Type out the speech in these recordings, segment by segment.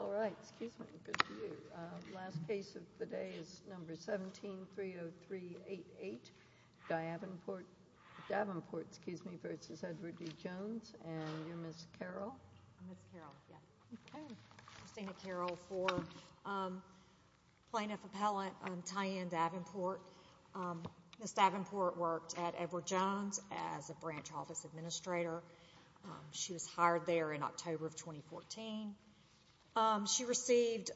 All right, excuse me, good to see you. The last case of the day is No. 17-30388, Davenport v. Edward D. Jones, and you're Ms. Carol? I'm Ms. Carol, yes. Christina Carol for Plaintiff Appellant Tyanne Davenport. Ms. Davenport worked at Edward Jones as a branch office administrator. She was hired there in October of 2014. She received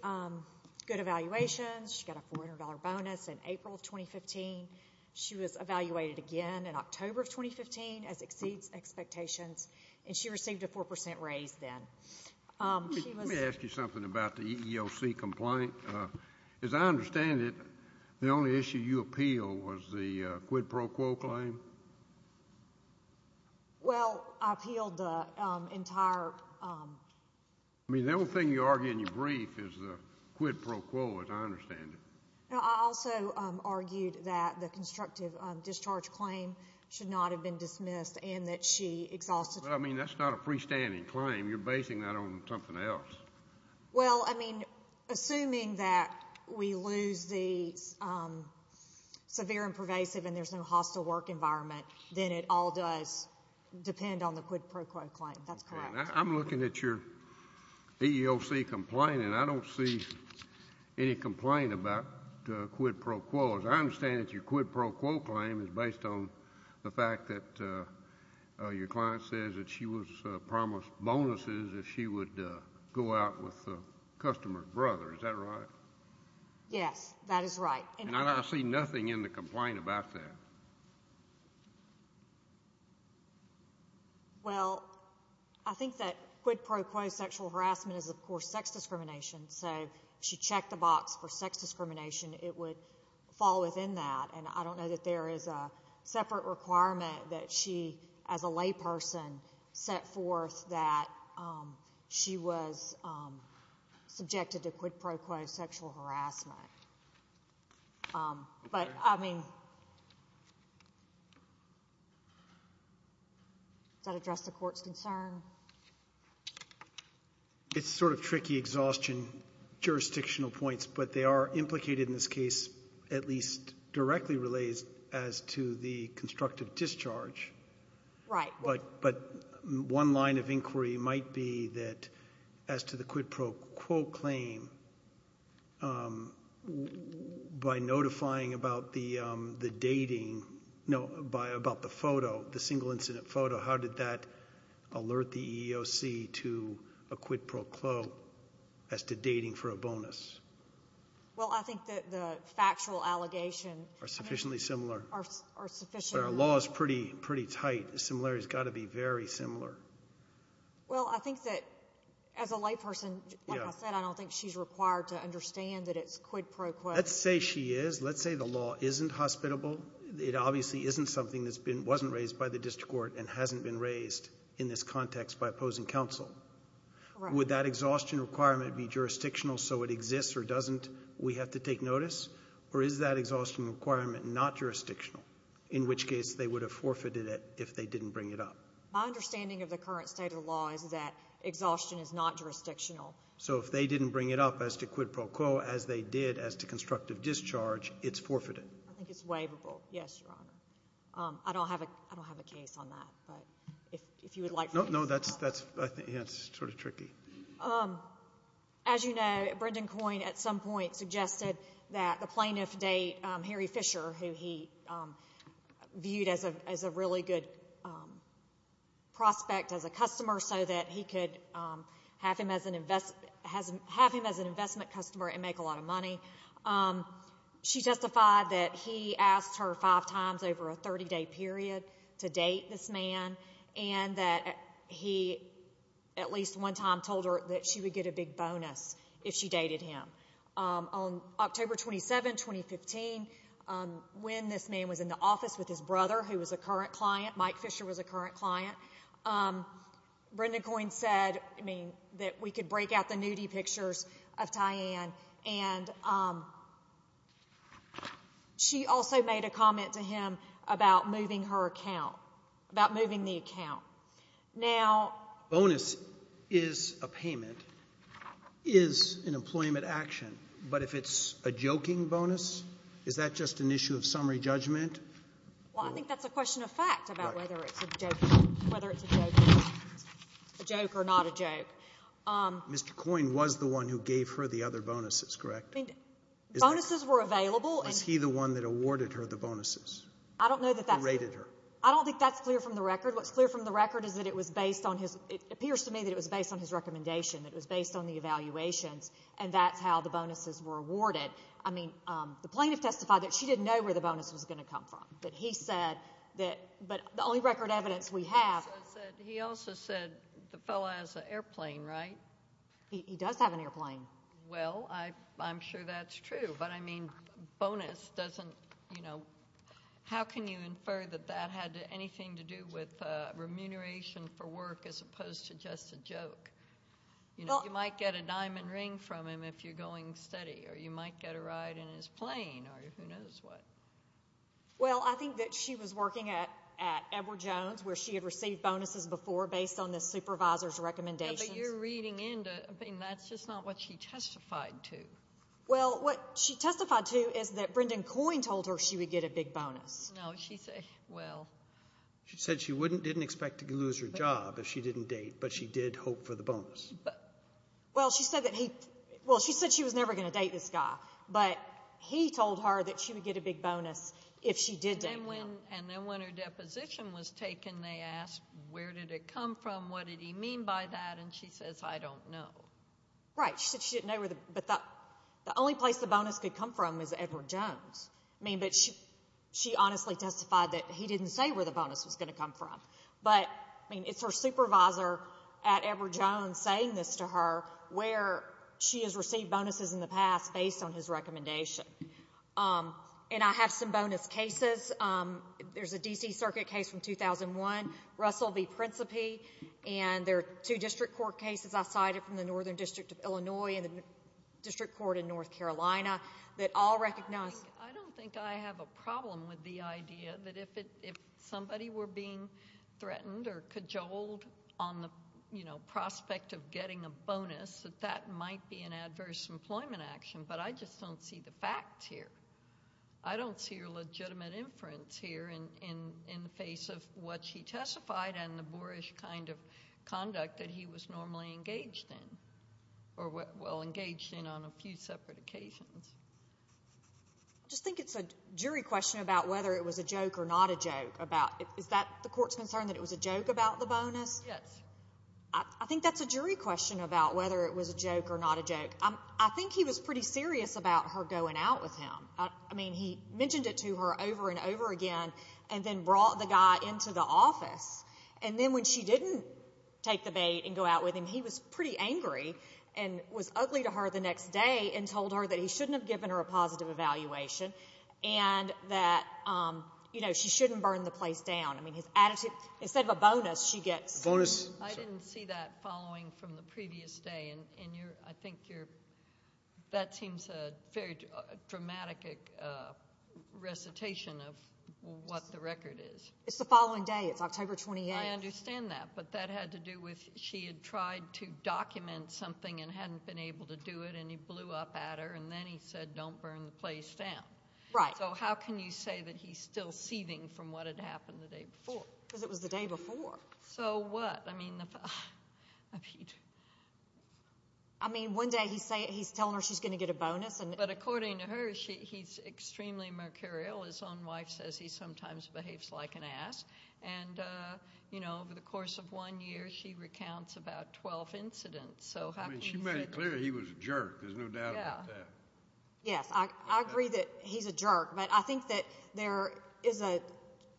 good evaluations. She got a $400 bonus in April of 2015. She was evaluated again in October of 2015 as exceeds expectations, and she received a 4% raise then. Let me ask you something about the EEOC complaint. As I understand it, the only issue you appealed was the quid pro quo claim? Well, I appealed the entire— I mean, the only thing you argue in your brief is the quid pro quo, as I understand it. I also argued that the constructive discharge claim should not have been dismissed and that she exhausted— Well, I mean, that's not a freestanding claim. You're basing that on something else. Well, I mean, assuming that we lose the severe and pervasive and there's no hostile work environment, then it all does depend on the quid pro quo claim. That's correct. I'm looking at your EEOC complaint, and I don't see any complaint about quid pro quo. As I understand it, your quid pro quo claim is based on the fact that your client says that she was promised bonuses if she would go out with the customer's brother. Is that right? Yes, that is right. And I see nothing in the complaint about that. Well, I think that quid pro quo sexual harassment is, of course, sex discrimination. So if she checked the box for sex discrimination, it would fall within that. And I don't know that there is a separate requirement that she, as a layperson, set forth that she was subjected to quid pro quo sexual harassment. But, I mean, does that address the Court's concern? It's sort of tricky exhaustion jurisdictional points, but they are implicated in this case at least directly relates as to the constructive discharge. Right. But one line of inquiry might be that as to the quid pro quo claim, by notifying about the dating, no, about the photo, the single incident photo, how did that alert the EEOC to a quid pro quo as to dating for a bonus? Well, I think that the factual allegations are sufficiently similar. Our law is pretty tight. The similarity has got to be very similar. Well, I think that as a layperson, like I said, I don't think she's required to understand that it's quid pro quo. Let's say she is. Let's say the law isn't hospitable. It obviously isn't something that wasn't raised by the district court and hasn't been raised in this context by opposing counsel. Would that exhaustion requirement be jurisdictional so it exists or doesn't, we have to take notice? Or is that exhaustion requirement not jurisdictional, in which case they would have forfeited it if they didn't bring it up? My understanding of the current state of the law is that exhaustion is not jurisdictional. So if they didn't bring it up as to quid pro quo, as they did as to constructive discharge, it's forfeited. I think it's waivable. Yes, Your Honor. I don't have a case on that. But if you would like to answer that. No, that's sort of tricky. As you know, Brendan Coyne at some point suggested that the plaintiff date, Harry Fisher, who he viewed as a really good prospect, as a customer, so that he could have him as an investment customer and make a lot of money. She testified that he asked her five times over a 30-day period to date this man and that he at least one time told her that she would get a big bonus if she dated him. On October 27, 2015, when this man was in the office with his brother, who was a current client, Mike Fisher was a current client, Brendan Coyne said that we could break out the nudie pictures of Tyann and she also made a comment to him about moving her account, about moving the account. Now, bonus is a payment, is an employment action. But if it's a joking bonus, is that just an issue of summary judgment? Well, I think that's a question of fact about whether it's a joke or not a joke. Mr. Coyne was the one who gave her the other bonuses, correct? Bonuses were available. Was he the one that awarded her the bonuses? I don't know that that's— Or rated her? I don't think that's clear from the record. What's clear from the record is that it was based on his— it appears to me that it was based on his recommendation, that it was based on the evaluations, and that's how the bonuses were awarded. I mean, the plaintiff testified that she didn't know where the bonus was going to come from, but he said that—but the only record evidence we have— He also said the fellow has an airplane, right? He does have an airplane. Well, I'm sure that's true. But, I mean, bonus doesn't—you know, how can you infer that that had anything to do with remuneration for work as opposed to just a joke? You know, you might get a diamond ring from him if you're going steady, or you might get a ride in his plane, or who knows what. Well, I think that she was working at Edward Jones, where she had received bonuses before based on the supervisor's recommendations. But you're reading into—I mean, that's just not what she testified to. Well, what she testified to is that Brendan Coyne told her she would get a big bonus. No, she said—well— She said she wouldn't—didn't expect to lose her job if she didn't date, but she did hope for the bonus. Well, she said that he—well, she said she was never going to date this guy, but he told her that she would get a big bonus if she did date him. And then when her deposition was taken, they asked, where did it come from, what did he mean by that, and she says, I don't know. Right. She said she didn't know where the—but the only place the bonus could come from is Edward Jones. I mean, but she honestly testified that he didn't say where the bonus was going to come from. But, I mean, it's her supervisor at Edward Jones saying this to her, where she has received bonuses in the past based on his recommendation. And I have some bonus cases. There's a D.C. Circuit case from 2001, Russell v. Principe, and there are two district court cases I cited from the Northern District of Illinois and the District Court in North Carolina that all recognize— I don't think I have a problem with the idea that if somebody were being threatened or cajoled on the prospect of getting a bonus, that that might be an adverse employment action, but I just don't see the facts here. I don't see a legitimate inference here in the face of what she testified and the boorish kind of conduct that he was normally engaged in, or, well, engaged in on a few separate occasions. I just think it's a jury question about whether it was a joke or not a joke. Is that the court's concern that it was a joke about the bonus? Yes. I think that's a jury question about whether it was a joke or not a joke. I think he was pretty serious about her going out with him. I mean, he mentioned it to her over and over again and then brought the guy into the office. And then when she didn't take the bait and go out with him, he was pretty angry and was ugly to her the next day and told her that he shouldn't have given her a positive evaluation and that she shouldn't burn the place down. I mean, his attitude. Instead of a bonus, she gets a bonus. I didn't see that following from the previous day, and I think that seems a very dramatic recitation of what the record is. It's the following day. It's October 28th. I understand that, but that had to do with she had tried to document something and hadn't been able to do it, and he blew up at her, and then he said don't burn the place down. Right. So how can you say that he's still seething from what had happened the day before? Because it was the day before. So what? I mean, one day he's telling her she's going to get a bonus. But according to her, he's extremely mercurial. His own wife says he sometimes behaves like an ass. And over the course of one year, she recounts about 12 incidents. I mean, she made it clear he was a jerk. There's no doubt about that. Yes. I agree that he's a jerk, but I think that there is a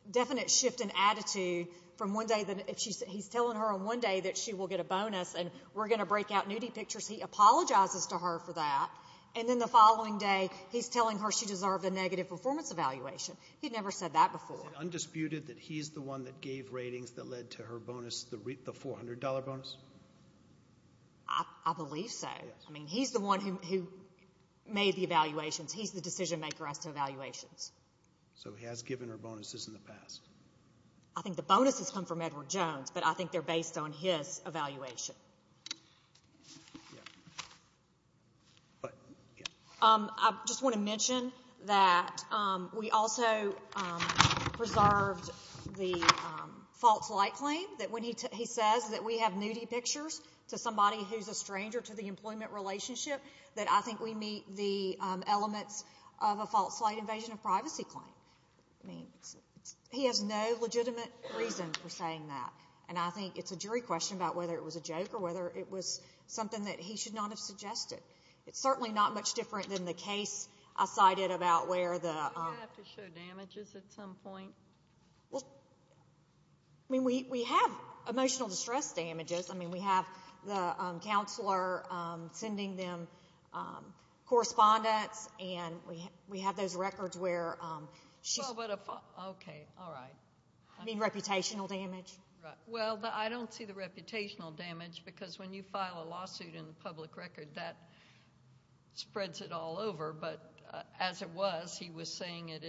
definite shift in attitude from one day. He's telling her on one day that she will get a bonus and we're going to break out nudie pictures. He apologizes to her for that, and then the following day, he's telling her she deserved a negative performance evaluation. He'd never said that before. Is it undisputed that he's the one that gave ratings that led to her bonus, the $400 bonus? I believe so. I mean, he's the one who made the evaluations. He's the decision maker as to evaluations. So he has given her bonuses in the past. I think the bonuses come from Edward Jones, but I think they're based on his evaluation. I just want to mention that we also preserved the false light claim that when he says that we have nudie pictures to somebody who's a stranger to the employment relationship, that I think we meet the elements of a false light invasion of privacy claim. I mean, he has no legitimate reason for saying that, and I think it's a jury question about whether it was a joke or whether it was something that he should not have suggested. It's certainly not much different than the case I cited about where the— Do you have to show damages at some point? Well, I mean, we have emotional distress damages. I mean, we have the counselor sending them correspondence, and we have those records where she's— Okay, all right. I mean, reputational damage. Well, I don't see the reputational damage, because when you file a lawsuit in the public record, that spreads it all over. But as it was, he was saying it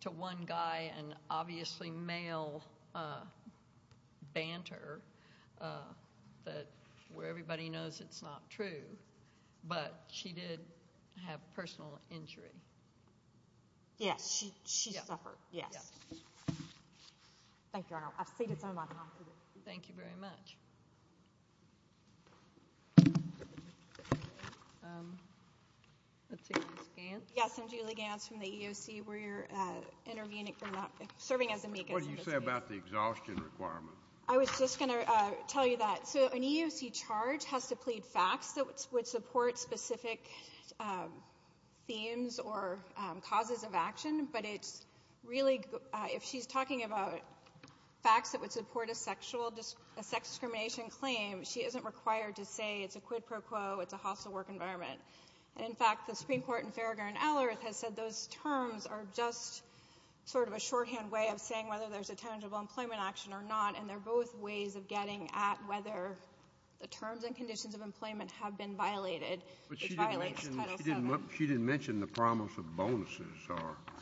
to one guy, and obviously male banter where everybody knows it's not true, but she did have personal injury. Yes, she suffered, yes. Thank you, Your Honor. I've ceded some of my time to you. Thank you very much. Let's see, Ms. Gantz. Yes, I'm Julie Gantz from the EEOC. We're serving as amicus in this case. What did you say about the exhaustion requirement? I was just going to tell you that. So an EEOC charge has to plead facts that would support specific themes or causes of action, but it's really—if she's talking about facts that would support a sex discrimination claim, she isn't required to say it's a quid pro quo, it's a hostile work environment. And, in fact, the Supreme Court in Farragher and Allard has said those terms are just sort of a shorthand way of saying whether there's a tangible employment action or not, and they're both ways of getting at whether the terms and conditions of employment have been violated. But she didn't mention the promise of bonuses.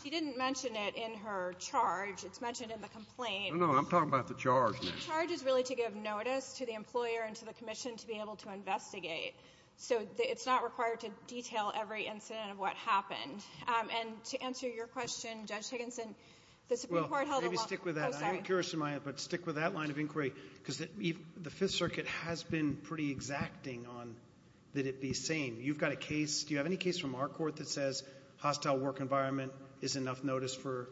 She didn't mention it in her charge. It's mentioned in the complaint. No, no, I'm talking about the charge now. The charge is really to give notice to the employer and to the commission to be able to investigate. So it's not required to detail every incident of what happened. And to answer your question, Judge Higginson, the Supreme Court held a— Well, maybe stick with that. I'm curious, but stick with that line of inquiry because the Fifth Circuit has been pretty exacting on that it be sane. You've got a case. Do you have any case from our court that says hostile work environment is enough notice for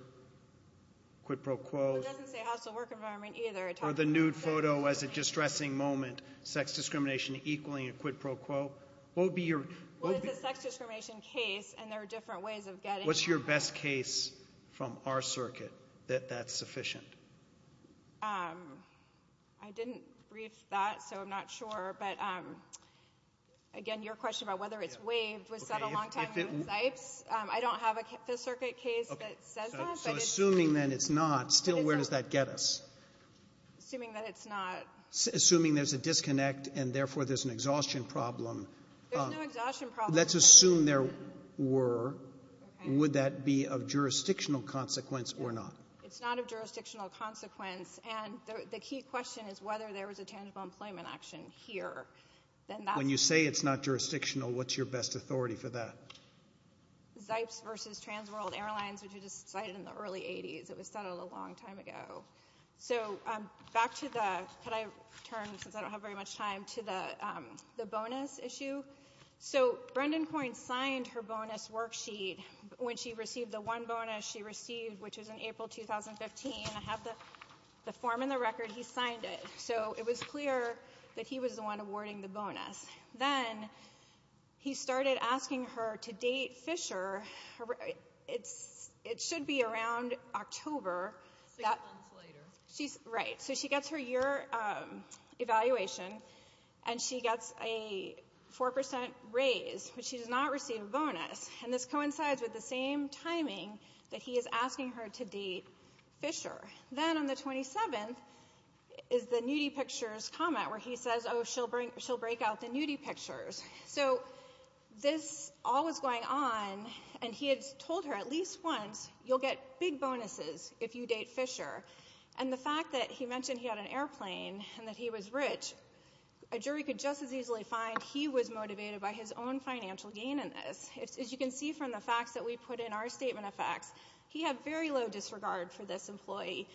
quid pro quo? It doesn't say hostile work environment either. Or the nude photo as a distressing moment, sex discrimination equaling a quid pro quo. What would be your— Well, it's a sex discrimination case, and there are different ways of getting— What's your best case from our circuit that that's sufficient? I didn't brief that, so I'm not sure. But, again, your question about whether it's waived was set a long time ago in Zipes. I don't have a Fifth Circuit case that says that, but it's— So assuming then it's not, still where does that get us? Assuming that it's not— Assuming there's a disconnect and, therefore, there's an exhaustion problem. There's no exhaustion problem. Let's assume there were. Okay. Would that be of jurisdictional consequence or not? It's not of jurisdictional consequence. And the key question is whether there was a tangible employment action here. When you say it's not jurisdictional, what's your best authority for that? Zipes versus Transworld Airlines, which was decided in the early 80s. It was settled a long time ago. So back to the—can I turn, since I don't have very much time, to the bonus issue? So Brendan Coyne signed her bonus worksheet when she received the one bonus she received, which was in April 2015. I have the form and the record. He signed it. So it was clear that he was the one awarding the bonus. Then he started asking her to date Fisher. It should be around October. Six months later. Right. So she gets her year evaluation, and she gets a 4% raise, but she does not receive a bonus. And this coincides with the same timing that he is asking her to date Fisher. Then on the 27th is the nudie pictures comment where he says, oh, she'll break out the nudie pictures. So this all was going on, and he had told her at least once, you'll get big bonuses if you date Fisher. And the fact that he mentioned he had an airplane and that he was rich, a jury could just as easily find he was motivated by his own financial gain in this. As you can see from the facts that we put in our statement of facts, he had very low disregard for this employee.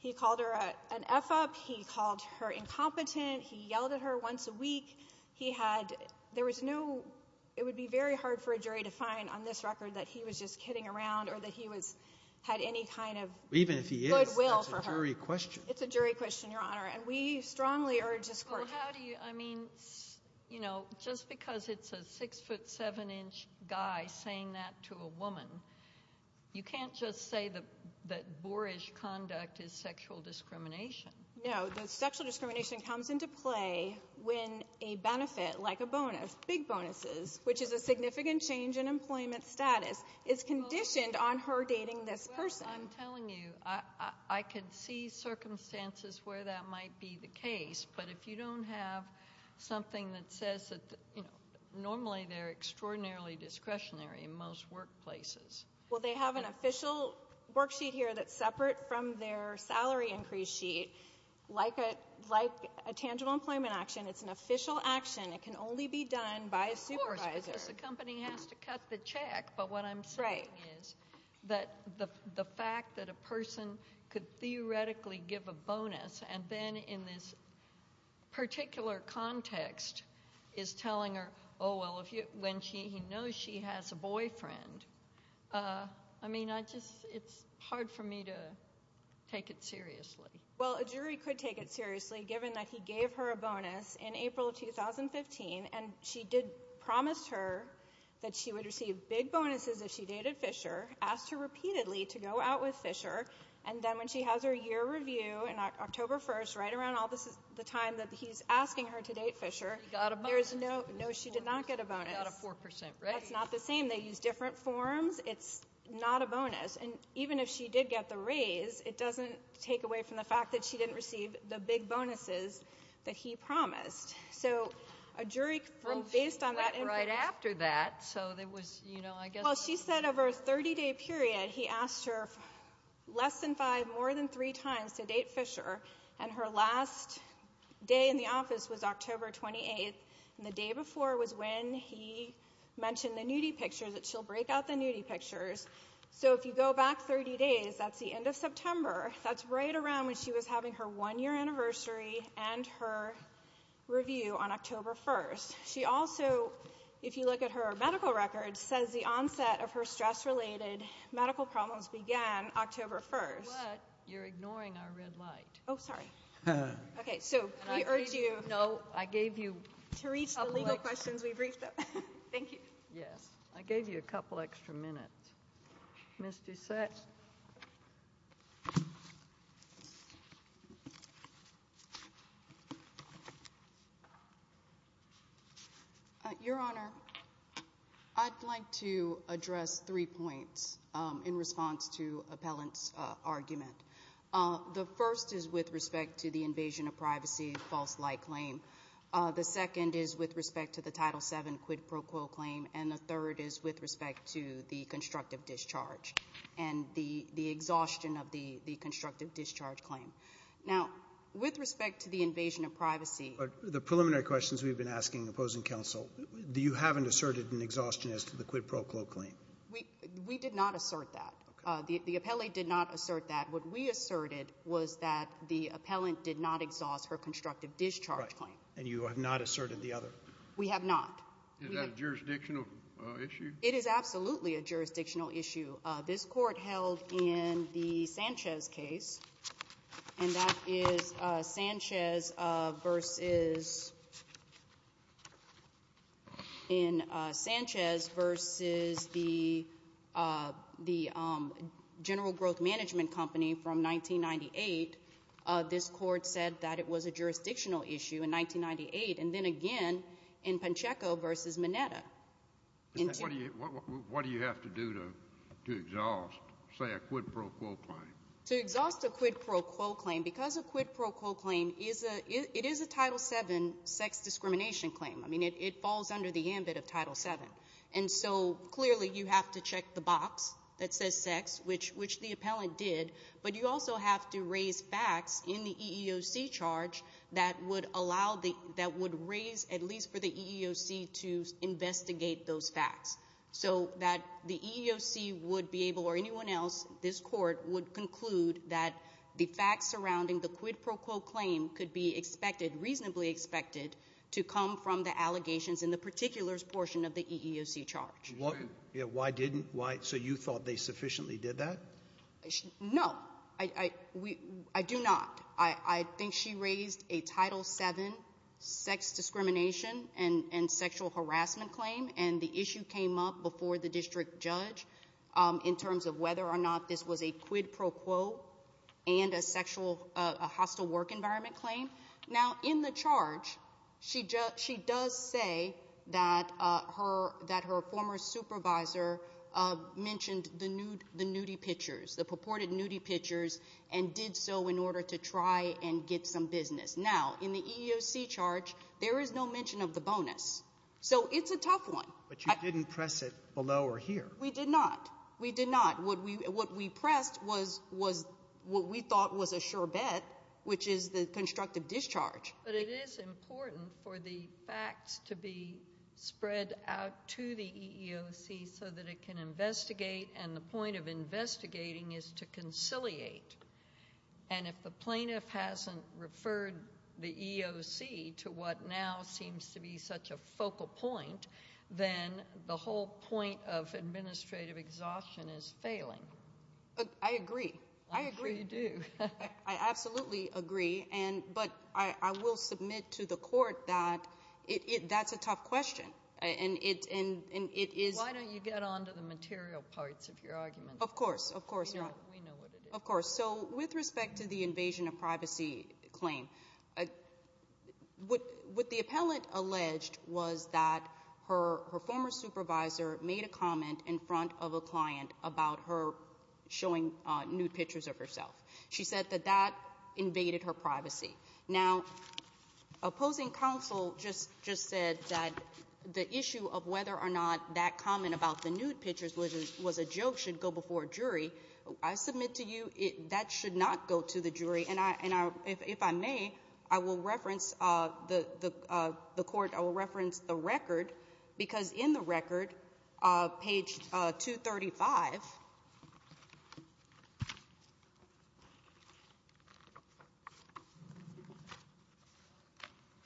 He called her an F-up. He called her incompetent. He yelled at her once a week. There was no ‑‑ it would be very hard for a jury to find on this record that he was just kidding around or that he had any kind of goodwill for her. Even if he is, it's a jury question. Well, how do you ‑‑ I mean, you know, just because it's a 6 foot 7 inch guy saying that to a woman, you can't just say that boorish conduct is sexual discrimination. No, the sexual discrimination comes into play when a benefit, like a bonus, big bonuses, which is a significant change in employment status, is conditioned on her dating this person. Well, I'm telling you, I can see circumstances where that might be the case, but if you don't have something that says that, you know, normally they're extraordinarily discretionary in most workplaces. Well, they have an official worksheet here that's separate from their salary increase sheet. Like a tangible employment action, it's an official action. It can only be done by a supervisor. Of course, because the company has to cut the check. But what I'm saying is that the fact that a person could theoretically give a bonus and then in this particular context is telling her, oh, well, when she knows she has a boyfriend, I mean, I just ‑‑ it's hard for me to take it seriously. Well, a jury could take it seriously, given that he gave her a bonus in April of 2015 and she did promise her that she would receive big bonuses if she dated Fisher, asked her repeatedly to go out with Fisher, and then when she has her year review in October 1st, right around the time that he's asking her to date Fisher, there's no ‑‑ She got a bonus. No, she did not get a bonus. She got a 4%, right? That's not the same. They use different forms. It's not a bonus. And even if she did get the raise, it doesn't take away from the fact that she didn't receive the big bonuses that he promised. So a jury, based on that input ‑‑ Well, she went right after that, so there was, you know, I guess ‑‑ Well, she said over a 30‑day period, he asked her less than five, more than three times to date Fisher, and her last day in the office was October 28th, and the day before was when he mentioned the nudie pictures, that she'll break out the nudie pictures. So if you go back 30 days, that's the end of September. That's right around when she was having her one‑year anniversary and her review on October 1st. She also, if you look at her medical records, says the onset of her stress‑related medical problems began October 1st. But you're ignoring our red light. Oh, sorry. Okay, so we urge you to reach the legal questions we briefed them. Thank you. Yes. I gave you a couple extra minutes. Ms. Doucette. Your Honor, I'd like to address three points in response to Appellant's argument. The first is with respect to the invasion of privacy false light claim. The second is with respect to the Title VII quid pro quo claim. And the third is with respect to the constructive discharge and the exhaustion of the constructive discharge claim. Now, with respect to the invasion of privacy. The preliminary questions we've been asking opposing counsel, do you have an asserted exhaustion as to the quid pro quo claim? We did not assert that. The appellee did not assert that. What we asserted was that the appellant did not exhaust her constructive discharge claim. And you have not asserted the other? We have not. Is that a jurisdictional issue? It is absolutely a jurisdictional issue. This court held in the Sanchez case, and that is Sanchez versus the General Growth Management Company from 1998. This court said that it was a jurisdictional issue in 1998. And then again in Pancheco versus Mineta. What do you have to do to exhaust, say, a quid pro quo claim? To exhaust a quid pro quo claim, because a quid pro quo claim is a Title VII sex discrimination claim. I mean, it falls under the ambit of Title VII. And so clearly you have to check the box that says sex, which the appellant did. But you also have to raise facts in the EEOC charge that would raise at least for the EEOC to investigate those facts. So that the EEOC would be able, or anyone else, this court, would conclude that the facts surrounding the quid pro quo claim could be expected, reasonably expected, to come from the allegations in the particulars portion of the EEOC charge. Why didn't? So you thought they sufficiently did that? No, I do not. I think she raised a Title VII sex discrimination and sexual harassment claim, and the issue came up before the district judge in terms of whether or not this was a quid pro quo and a hostile work environment claim. Now, in the charge, she does say that her former supervisor mentioned the nudity pictures, the purported nudity pictures, and did so in order to try and get some business. Now, in the EEOC charge, there is no mention of the bonus. So it's a tough one. But you didn't press it below or here. We did not. We did not. What we pressed was what we thought was a sure bet, which is the constructive discharge. But it is important for the facts to be spread out to the EEOC so that it can investigate, and the point of investigating is to conciliate. And if the plaintiff hasn't referred the EEOC to what now seems to be such a focal point, then the whole point of administrative exhaustion is failing. I agree. I agree. I'm sure you do. I absolutely agree. But I will submit to the court that that's a tough question. And it is— Why don't you get on to the material parts of your argument? Of course. Of course. We know what it is. Of course. So with respect to the invasion of privacy claim, what the appellant alleged was that her former supervisor made a comment in front of a client about her showing nude pictures of herself. Now, opposing counsel just said that the issue of whether or not that comment about the nude pictures was a joke should go before a jury. I submit to you that should not go to the jury. And if I may, I will reference the record, because in the record, page 235,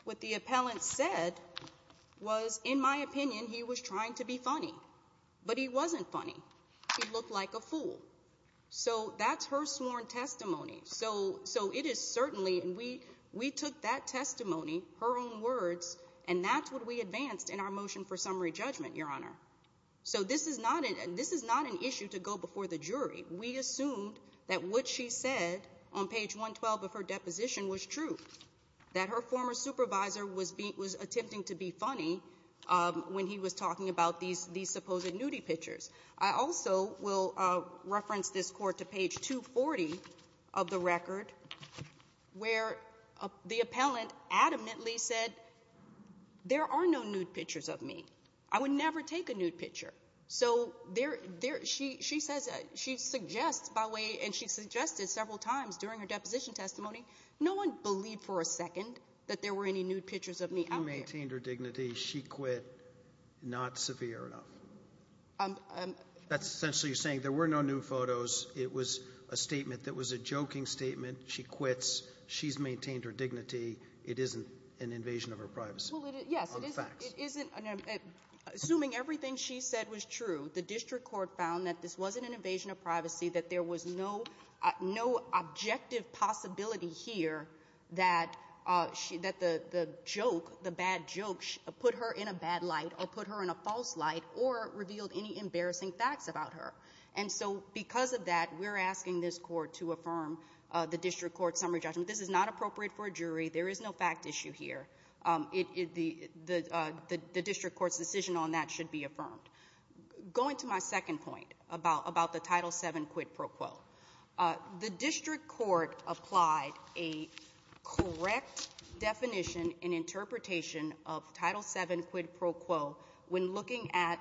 what the appellant said was, in my opinion, he was trying to be funny. But he wasn't funny. He looked like a fool. So that's her sworn testimony. So it is certainly—and we took that testimony, her own words, and that's what we advanced in our motion for summary judgment, Your Honor. So this is not an issue to go before the jury. We assumed that what she said on page 112 of her deposition was true, that her former supervisor was attempting to be funny when he was talking about these supposed nudie pictures. I also will reference this Court to page 240 of the record, where the appellant adamantly said, there are no nude pictures of me. I would never take a nude picture. So there—she says—she suggests by way—and she suggested several times during her deposition testimony, no one believed for a second that there were any nude pictures of me out there. You maintained her dignity. She quit not severe enough. That's essentially saying there were no nude photos. It was a statement that was a joking statement. She quits. She's maintained her dignity. It isn't an invasion of her privacy. Well, it is—yes. It isn't—assuming everything she said was true, the district court found that this wasn't an invasion of privacy, that there was no objective possibility here that the joke, the bad joke put her in a bad light or put her in a false light or revealed any embarrassing facts about her. And so because of that, we're asking this Court to affirm the district court's summary judgment. This is not appropriate for a jury. There is no fact issue here. The district court's decision on that should be affirmed. Going to my second point about the Title VII quid pro quo. The district court applied a correct definition and interpretation of Title VII quid pro quo when looking at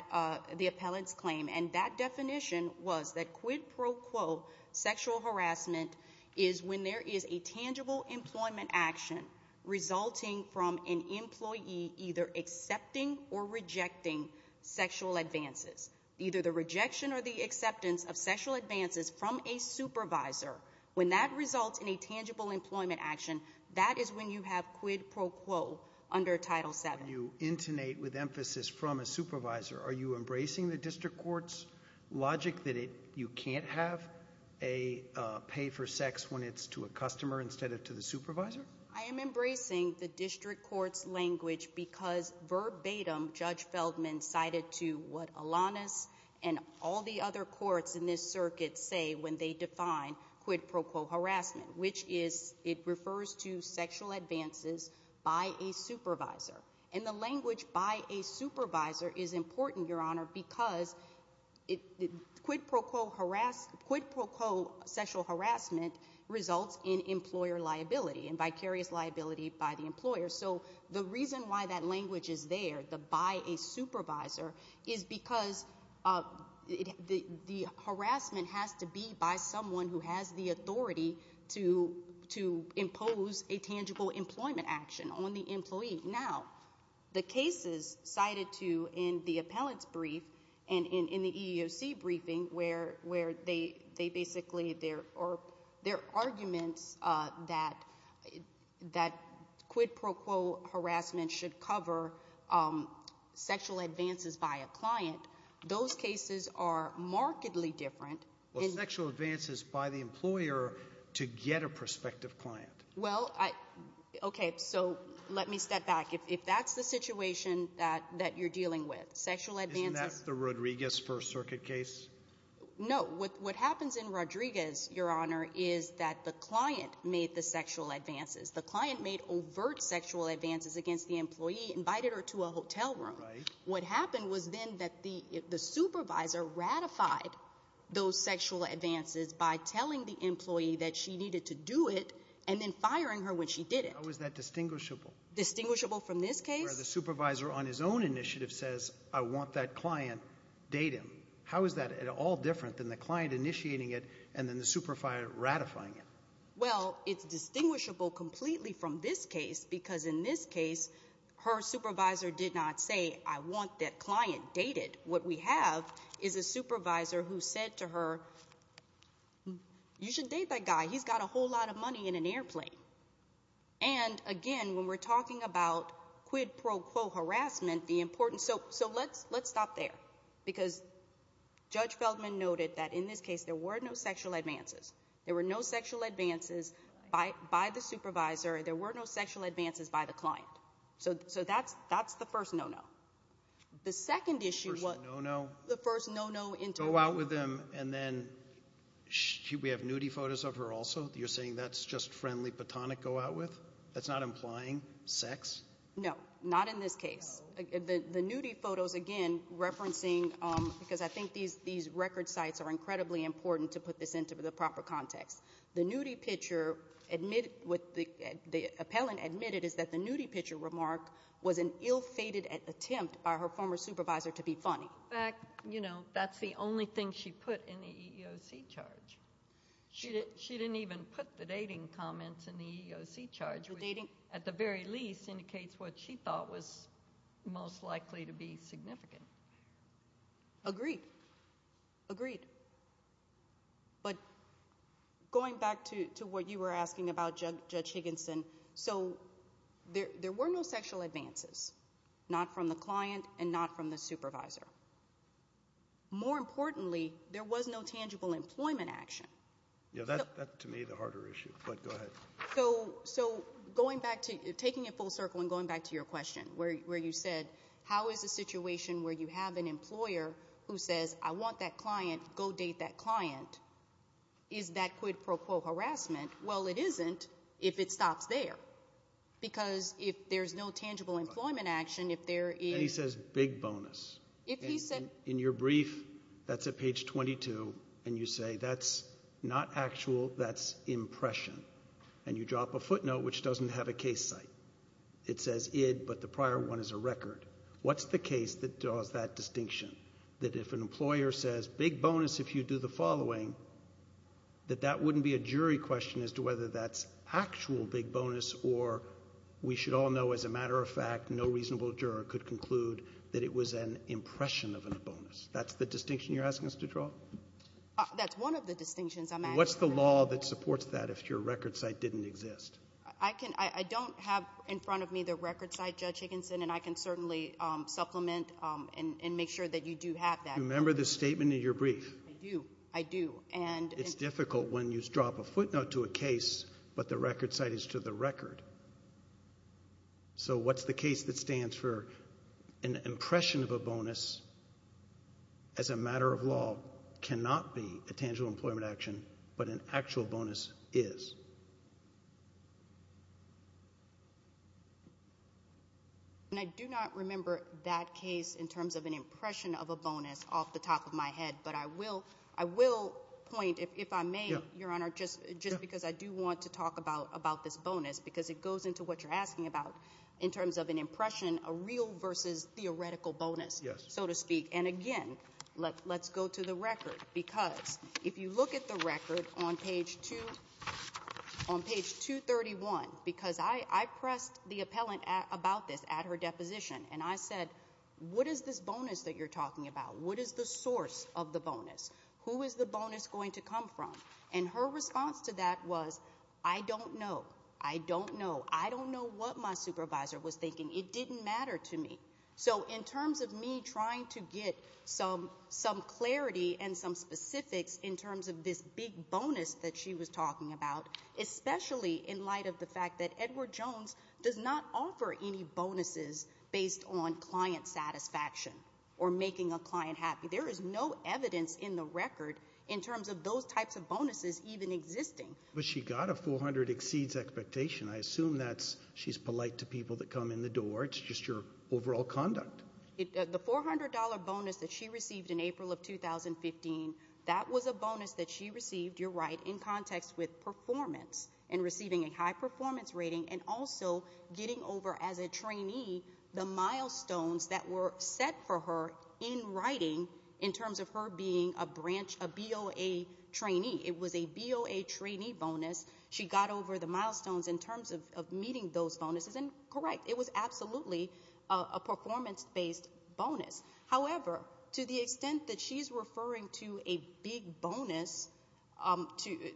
the appellant's claim, and that definition was that quid pro quo sexual harassment is when there is a tangible employment action resulting from an employee either accepting or rejecting sexual advances, either the rejection or the acceptance of sexual advances from a supervisor. When that results in a tangible employment action, that is when you have quid pro quo under Title VII. You intonate with emphasis from a supervisor. Are you embracing the district court's logic that you can't have a pay for sex when it's to a customer instead of to the supervisor? I am embracing the district court's language because verbatim Judge Feldman cited to what Alanis and all the other courts in this circuit say when they define quid pro quo harassment, which is it refers to sexual advances by a supervisor. And the language by a supervisor is important, Your Honor, because quid pro quo harassment results in employer liability and vicarious liability by the employer. So the reason why that language is there, the by a supervisor, is because the harassment has to be by someone who has the authority to impose a tangible employment action on the employee. Now, the cases cited to in the appellant's brief and in the EEOC briefing where they basically, there are arguments that quid pro quo harassment should cover sexual advances by a client. Those cases are markedly different. Well, sexual advances by the employer to get a prospective client. Well, okay, so let me step back. If that's the situation that you're dealing with, sexual advances. Isn't that the Rodriguez First Circuit case? No. What happens in Rodriguez, Your Honor, is that the client made the sexual advances. The client made overt sexual advances against the employee, invited her to a hotel room. Right. What happened was then that the supervisor ratified those sexual advances by telling the employee that she needed to do it and then firing her when she didn't. How is that distinguishable? Distinguishable from this case? Where the supervisor on his own initiative says, I want that client, date him. How is that at all different than the client initiating it and then the supervisor ratifying it? Well, it's distinguishable completely from this case because in this case, her supervisor did not say, I want that client dated. What we have is a supervisor who said to her, you should date that guy. He's got a whole lot of money in an airplane. And, again, when we're talking about quid pro quo harassment, the important so let's stop there. Because Judge Feldman noted that in this case there were no sexual advances. There were no sexual advances by the supervisor. There were no sexual advances by the client. So that's the first no-no. The second issue was the first no-no. Go out with him and then we have nudie photos of her also? You're saying that's just friendly platonic go out with? That's not implying sex? No, not in this case. The nudie photos, again, referencing because I think these record sites are incredibly important to put this into the proper context. The nudie picture with the appellant admitted is that the nudie picture remark was an ill-fated attempt by her former supervisor to be funny. In fact, you know, that's the only thing she put in the EEOC charge. She didn't even put the dating comments in the EEOC charge. At the very least indicates what she thought was most likely to be significant. Agreed. Agreed. But going back to what you were asking about, Judge Higginson, so there were no sexual advances, not from the client and not from the supervisor. More importantly, there was no tangible employment action. Yeah, that's to me the harder issue, but go ahead. So going back to – taking it full circle and going back to your question where you said how is a situation where you have an employer who says, I want that client, go date that client, is that quid pro quo harassment? Well, it isn't if it stops there because if there's no tangible employment action, if there is – And he says big bonus. If he said – In your brief, that's at page 22, and you say that's not actual, that's impression. And you drop a footnote which doesn't have a case site. It says id, but the prior one is a record. What's the case that draws that distinction? That if an employer says big bonus if you do the following, that that wouldn't be a jury question as to whether that's actual big bonus or we should all know as a matter of fact no reasonable juror could conclude that it was an impression of a bonus. That's the distinction you're asking us to draw? That's one of the distinctions. What's the law that supports that if your record site didn't exist? I can – I don't have in front of me the record site, Judge Higginson, and I can certainly supplement and make sure that you do have that. Do you remember the statement in your brief? I do. I do. It's difficult when you drop a footnote to a case but the record site is to the record. So what's the case that stands for an impression of a bonus as a matter of law cannot be a tangible employment action, but an actual bonus is? I do not remember that case in terms of an impression of a bonus off the top of my head, but I will point if I may, Your Honor, just because I do want to talk about this bonus because it goes into what you're asking about in terms of an impression, a real versus theoretical bonus, so to speak. And again, let's go to the record because if you look at the record on page 231, because I pressed the appellant about this at her deposition, and I said what is this bonus that you're talking about? What is the source of the bonus? Who is the bonus going to come from? And her response to that was I don't know. I don't know. I don't know what my supervisor was thinking. It didn't matter to me. So in terms of me trying to get some clarity and some specifics in terms of this big bonus that she was talking about, in light of the fact that Edward Jones does not offer any bonuses based on client satisfaction or making a client happy. There is no evidence in the record in terms of those types of bonuses even existing. But she got a 400 exceeds expectation. I assume that she's polite to people that come in the door. It's just your overall conduct. The $400 bonus that she received in April of 2015, that was a bonus that she received, you're right, in context with performance and receiving a high performance rating and also getting over as a trainee the milestones that were set for her in writing in terms of her being a B.O.A. trainee. It was a B.O.A. trainee bonus. She got over the milestones in terms of meeting those bonuses, and correct. It was absolutely a performance-based bonus. However, to the extent that she's referring to a big bonus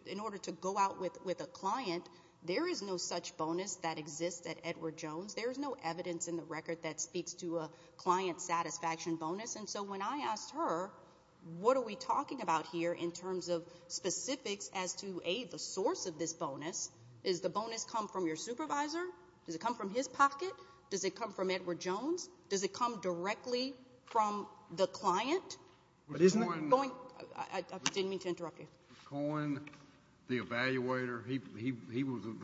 in order to go out with a client, there is no such bonus that exists at Edward Jones. There is no evidence in the record that speaks to a client satisfaction bonus. And so when I asked her, what are we talking about here in terms of specifics as to, A, the source of this bonus? Does the bonus come from your supervisor? Does it come from his pocket? Does it come from Edward Jones? Does it come directly from the client? I didn't mean to interrupt you. Cohen, the evaluator, he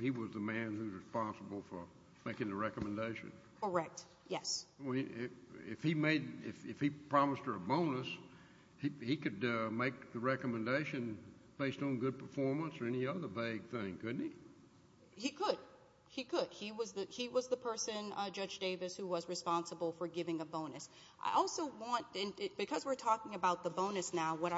was the man who was responsible for making the recommendation. Correct. Yes. If he promised her a bonus, he could make the recommendation based on good performance or any other vague thing, couldn't he? He could. He could. He was the person, Judge Davis, who was responsible for giving a bonus. I also want, because we're talking about the bonus now, I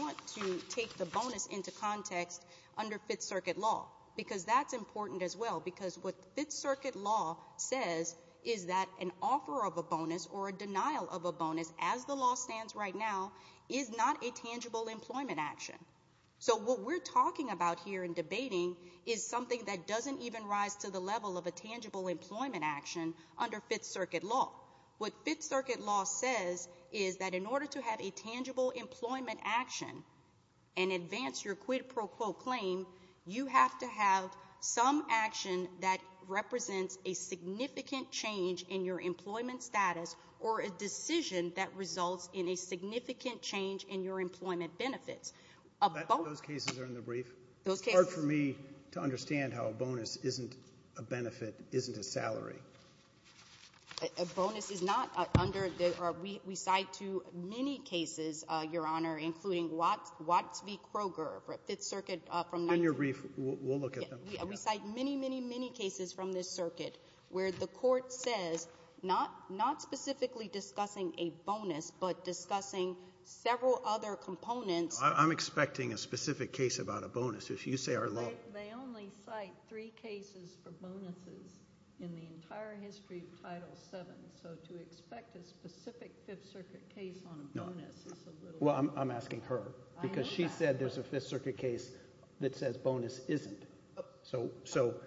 want to take the bonus into context under Fifth Circuit law, because that's important as well, because what Fifth Circuit law says is that an offer of a bonus or a denial of a bonus, as the law stands right now, is not a tangible employment action. So what we're talking about here and debating is something that doesn't even rise to the level of a tangible employment action under Fifth Circuit law. What Fifth Circuit law says is that in order to have a tangible employment action and advance your quid pro quo claim, you have to have some action that represents a significant change in your employment status or a decision that results in a significant change in your employment benefits. A bonus — Those cases are in the brief. Those cases. It's hard for me to understand how a bonus isn't a benefit, isn't a salary. A bonus is not under the — we cite to many cases, Your Honor, including Watts v. Kroger for Fifth Circuit from — They're in your brief. We'll look at them. We cite many, many, many cases from this circuit where the court says not specifically discussing a bonus but discussing several other components. I'm expecting a specific case about a bonus. If you say our law — They only cite three cases for bonuses in the entire history of Title VII. So to expect a specific Fifth Circuit case on a bonus is a little — Well, I'm asking her because she said there's a Fifth Circuit case that says bonus isn't.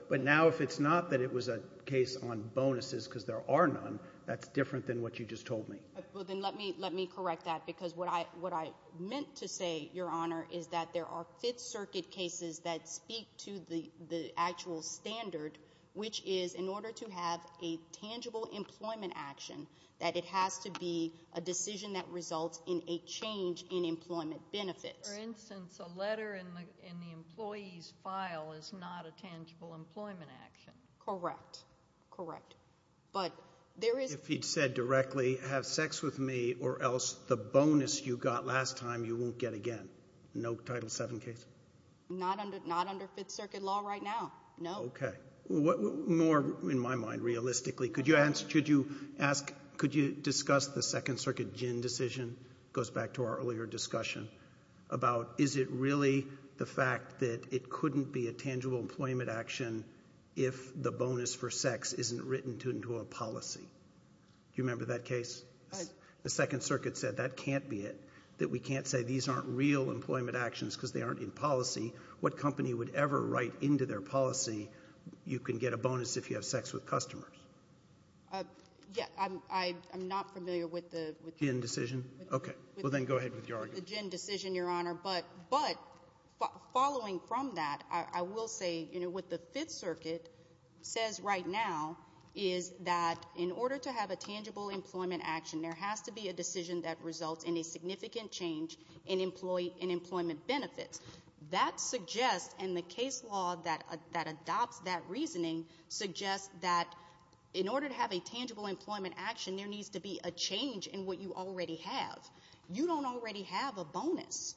But now if it's not that it was a case on bonuses because there are none, that's different than what you just told me. Well, then let me correct that because what I meant to say, Your Honor, is that there are Fifth Circuit cases that speak to the actual standard, which is in order to have a tangible employment action, that it has to be a decision that results in a change in employment benefits. For instance, a letter in the employee's file is not a tangible employment action. Correct. Correct. But there is — If he'd said directly, have sex with me or else the bonus you got last time you won't get again. No Title VII case? Not under Fifth Circuit law right now, no. OK. More, in my mind, realistically. Could you ask — could you discuss the Second Circuit gin decision? It goes back to our earlier discussion about is it really the fact that it couldn't be a tangible employment action if the bonus for sex isn't written into a policy? Do you remember that case? Yes. The Second Circuit said that can't be it, that we can't say these aren't real employment actions because they aren't in policy. What company would ever write into their policy you can get a bonus if you have sex with customers? Yeah. I'm not familiar with the — Gin decision? OK. Well, then go ahead with your argument. The gin decision, Your Honor. But following from that, I will say, you know, what the Fifth Circuit says right now is that in order to have a tangible employment action, there has to be a decision that results in a significant change in employee — in employment benefits. That suggests — and the case law that adopts that reasoning suggests that in order to have a tangible employment action, there needs to be a change in what you already have. You don't already have a bonus.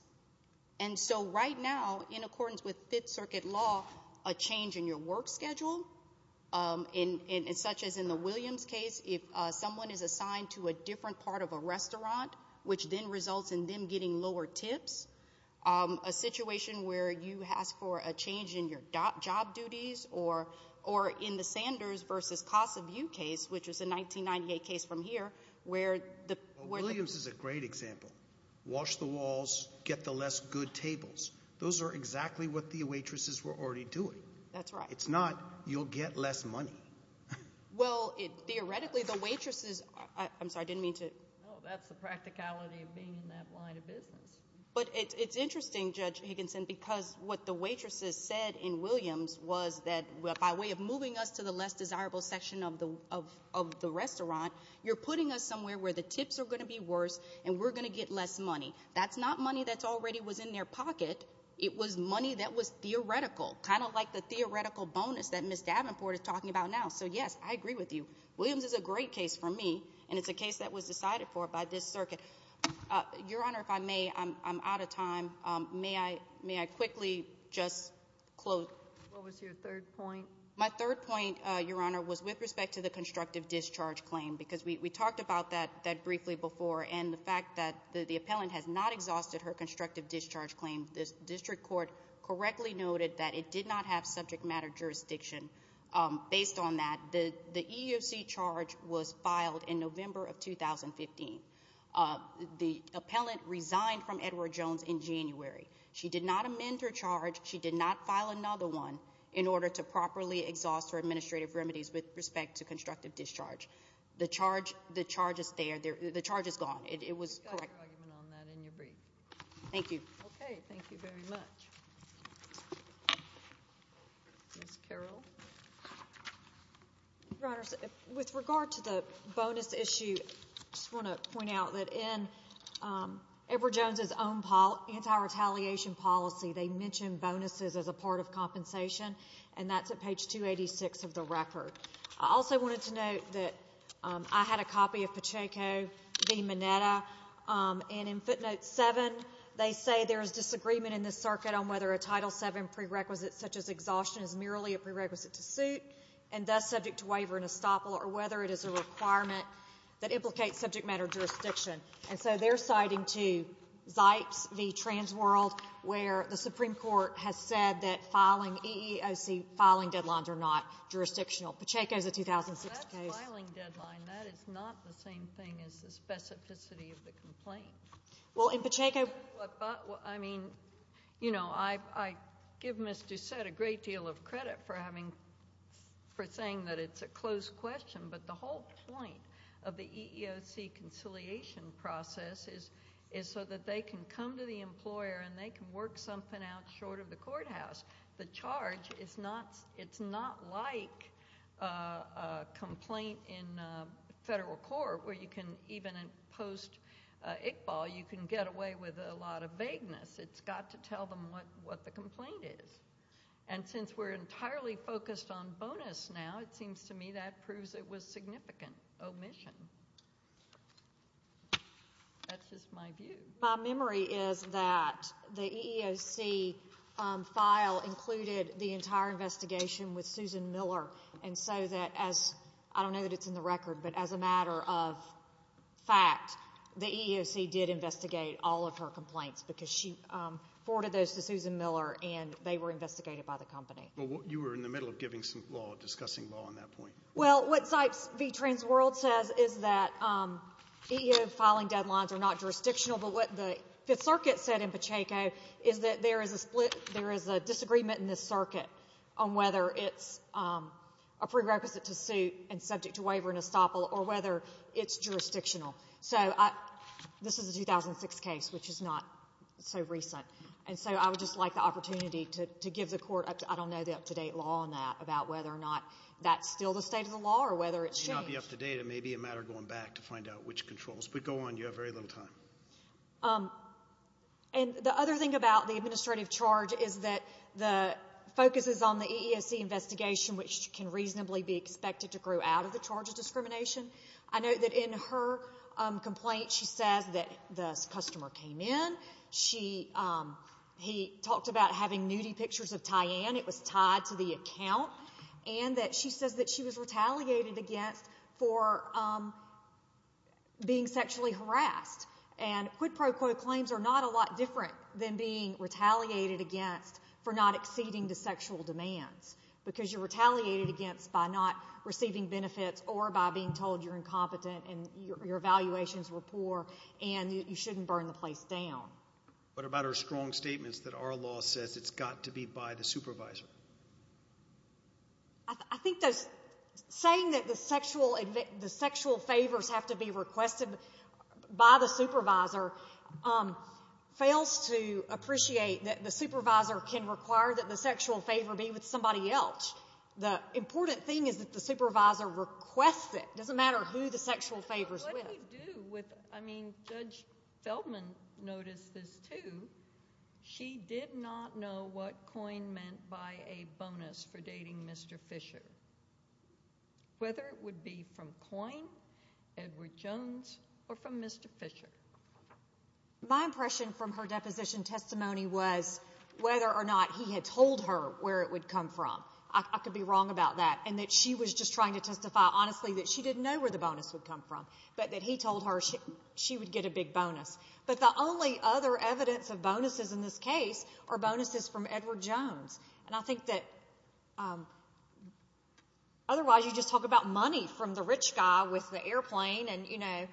And so right now, in accordance with Fifth Circuit law, a change in your work schedule, such as in the Williams case, if someone is assigned to a different part of a restaurant, which then results in them getting lower tips, a situation where you ask for a change in your job duties, or in the Sanders v. Casa View case, which is a 1998 case from here, where the — Williams is a great example. Wash the walls. Get the less good tables. Those are exactly what the waitresses were already doing. That's right. It's not you'll get less money. Well, theoretically, the waitresses — I'm sorry. I didn't mean to — No, that's the practicality of being in that line of business. But it's interesting, Judge Higginson, because what the waitresses said in Williams was that by way of moving us to the less desirable section of the restaurant, you're putting us somewhere where the tips are going to be worse and we're going to get less money. That's not money that already was in their pocket. It was money that was theoretical, kind of like the theoretical bonus that Ms. Davenport is talking about now. So, yes, I agree with you. Williams is a great case for me, and it's a case that was decided for by this circuit. Your Honor, if I may, I'm out of time. May I quickly just close? What was your third point? My third point, Your Honor, was with respect to the constructive discharge claim, because we talked about that briefly before, and the fact that the appellant has not exhausted her constructive discharge claim. The district court correctly noted that it did not have subject matter jurisdiction based on that. The EEOC charge was filed in November of 2015. The appellant resigned from Edward Jones in January. She did not amend her charge. She did not file another one in order to properly exhaust her administrative remedies with respect to constructive discharge. The charge is there. The charge is gone. It was correct. You've got your argument on that in your brief. Thank you. Okay. Thank you very much. Ms. Carroll. Your Honor, with regard to the bonus issue, I just want to point out that in Edward Jones' own anti-retaliation policy, they mention bonuses as a part of compensation, and that's at page 286 of the record. I also wanted to note that I had a copy of Pacheco v. Mineta, and in footnote 7, they say there is disagreement in the circuit on whether a Title VII prerequisite such as exhaustion is merely a prerequisite to suit, and thus subject to waiver and estoppel, or whether it is a requirement that implicates subject matter jurisdiction. And so they're citing to Zipes v. Transworld, where the Supreme Court has said that filing EEOC filing deadlines are not jurisdictional. Pacheco is a 2006 case. That is not the same thing as the specificity of the complaint. Well, in Pacheco. I mean, you know, I give Ms. Doucette a great deal of credit for saying that it's a closed question, but the whole point of the EEOC conciliation process is so that they can come to the employer and they can work something out short of the courthouse. The charge is not like a complaint in federal court where you can even post Iqbal, you can get away with a lot of vagueness. It's got to tell them what the complaint is. And since we're entirely focused on bonus now, it seems to me that proves it was significant omission. That's just my view. My memory is that the EEOC file included the entire investigation with Susan Miller, and so that as I don't know that it's in the record, but as a matter of fact, the EEOC did investigate all of her complaints because she forwarded those to Susan Miller and they were investigated by the company. Well, you were in the middle of giving some law, discussing law on that point. Well, what Zipes v. Transworld says is that EEO filing deadlines are not jurisdictional, but what the Fifth Circuit said in Pacheco is that there is a split, there is a disagreement in this circuit on whether it's a prerequisite to suit and subject to waiver and estoppel or whether it's jurisdictional. So this is a 2006 case, which is not so recent, and so I would just like the opportunity to give the court, I don't know the up-to-date law on that, about whether or not that's still the state of the law or whether it's changed. It may not be up-to-date. It may be a matter of going back to find out which controls. But go on. You have very little time. And the other thing about the administrative charge is that the focus is on the EEOC investigation, which can reasonably be expected to grow out of the charge of discrimination. I note that in her complaint, she says that the customer came in. He talked about having nudie pictures of Tyann. It was tied to the account. And that she says that she was retaliated against for being sexually harassed. And quid pro quo claims are not a lot different than being retaliated against for not acceding to sexual demands, because you're retaliated against by not receiving benefits or by being told you're incompetent and your evaluations were poor and you shouldn't burn the place down. What about her strong statements that our law says it's got to be by the supervisor? I think that saying that the sexual favors have to be requested by the supervisor fails to appreciate that the supervisor can require that the sexual favor be with somebody else. The important thing is that the supervisor requests it. It doesn't matter who the sexual favor is with. Judge Feldman noticed this too. She did not know what COIN meant by a bonus for dating Mr. Fisher, whether it would be from COIN, Edward Jones, or from Mr. Fisher. My impression from her deposition testimony was whether or not he had told her where it would come from. I could be wrong about that. And that she was just trying to testify honestly that she didn't know where the bonus would come from, but that he told her she would get a big bonus. But the only other evidence of bonuses in this case are bonuses from Edward Jones. And I think that otherwise you just talk about money from the rich guy with the airplane, and I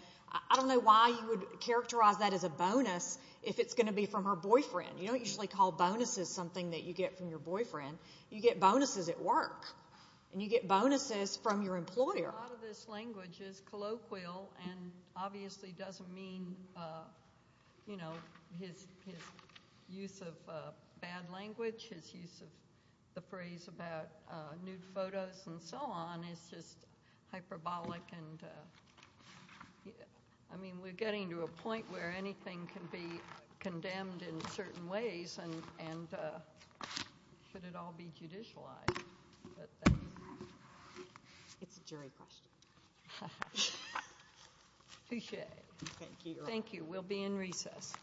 don't know why you would characterize that as a bonus if it's going to be from her boyfriend. You don't usually call bonuses something that you get from your boyfriend. You get bonuses at work, and you get bonuses from your employer. A lot of this language is colloquial and obviously doesn't mean his use of bad language, his use of the phrase about nude photos and so on is just hyperbolic. I mean we're getting to a point where anything can be condemned in certain ways, and should it all be judicialized? It's a jury question. Touche. Thank you. Thank you. We'll be in recess.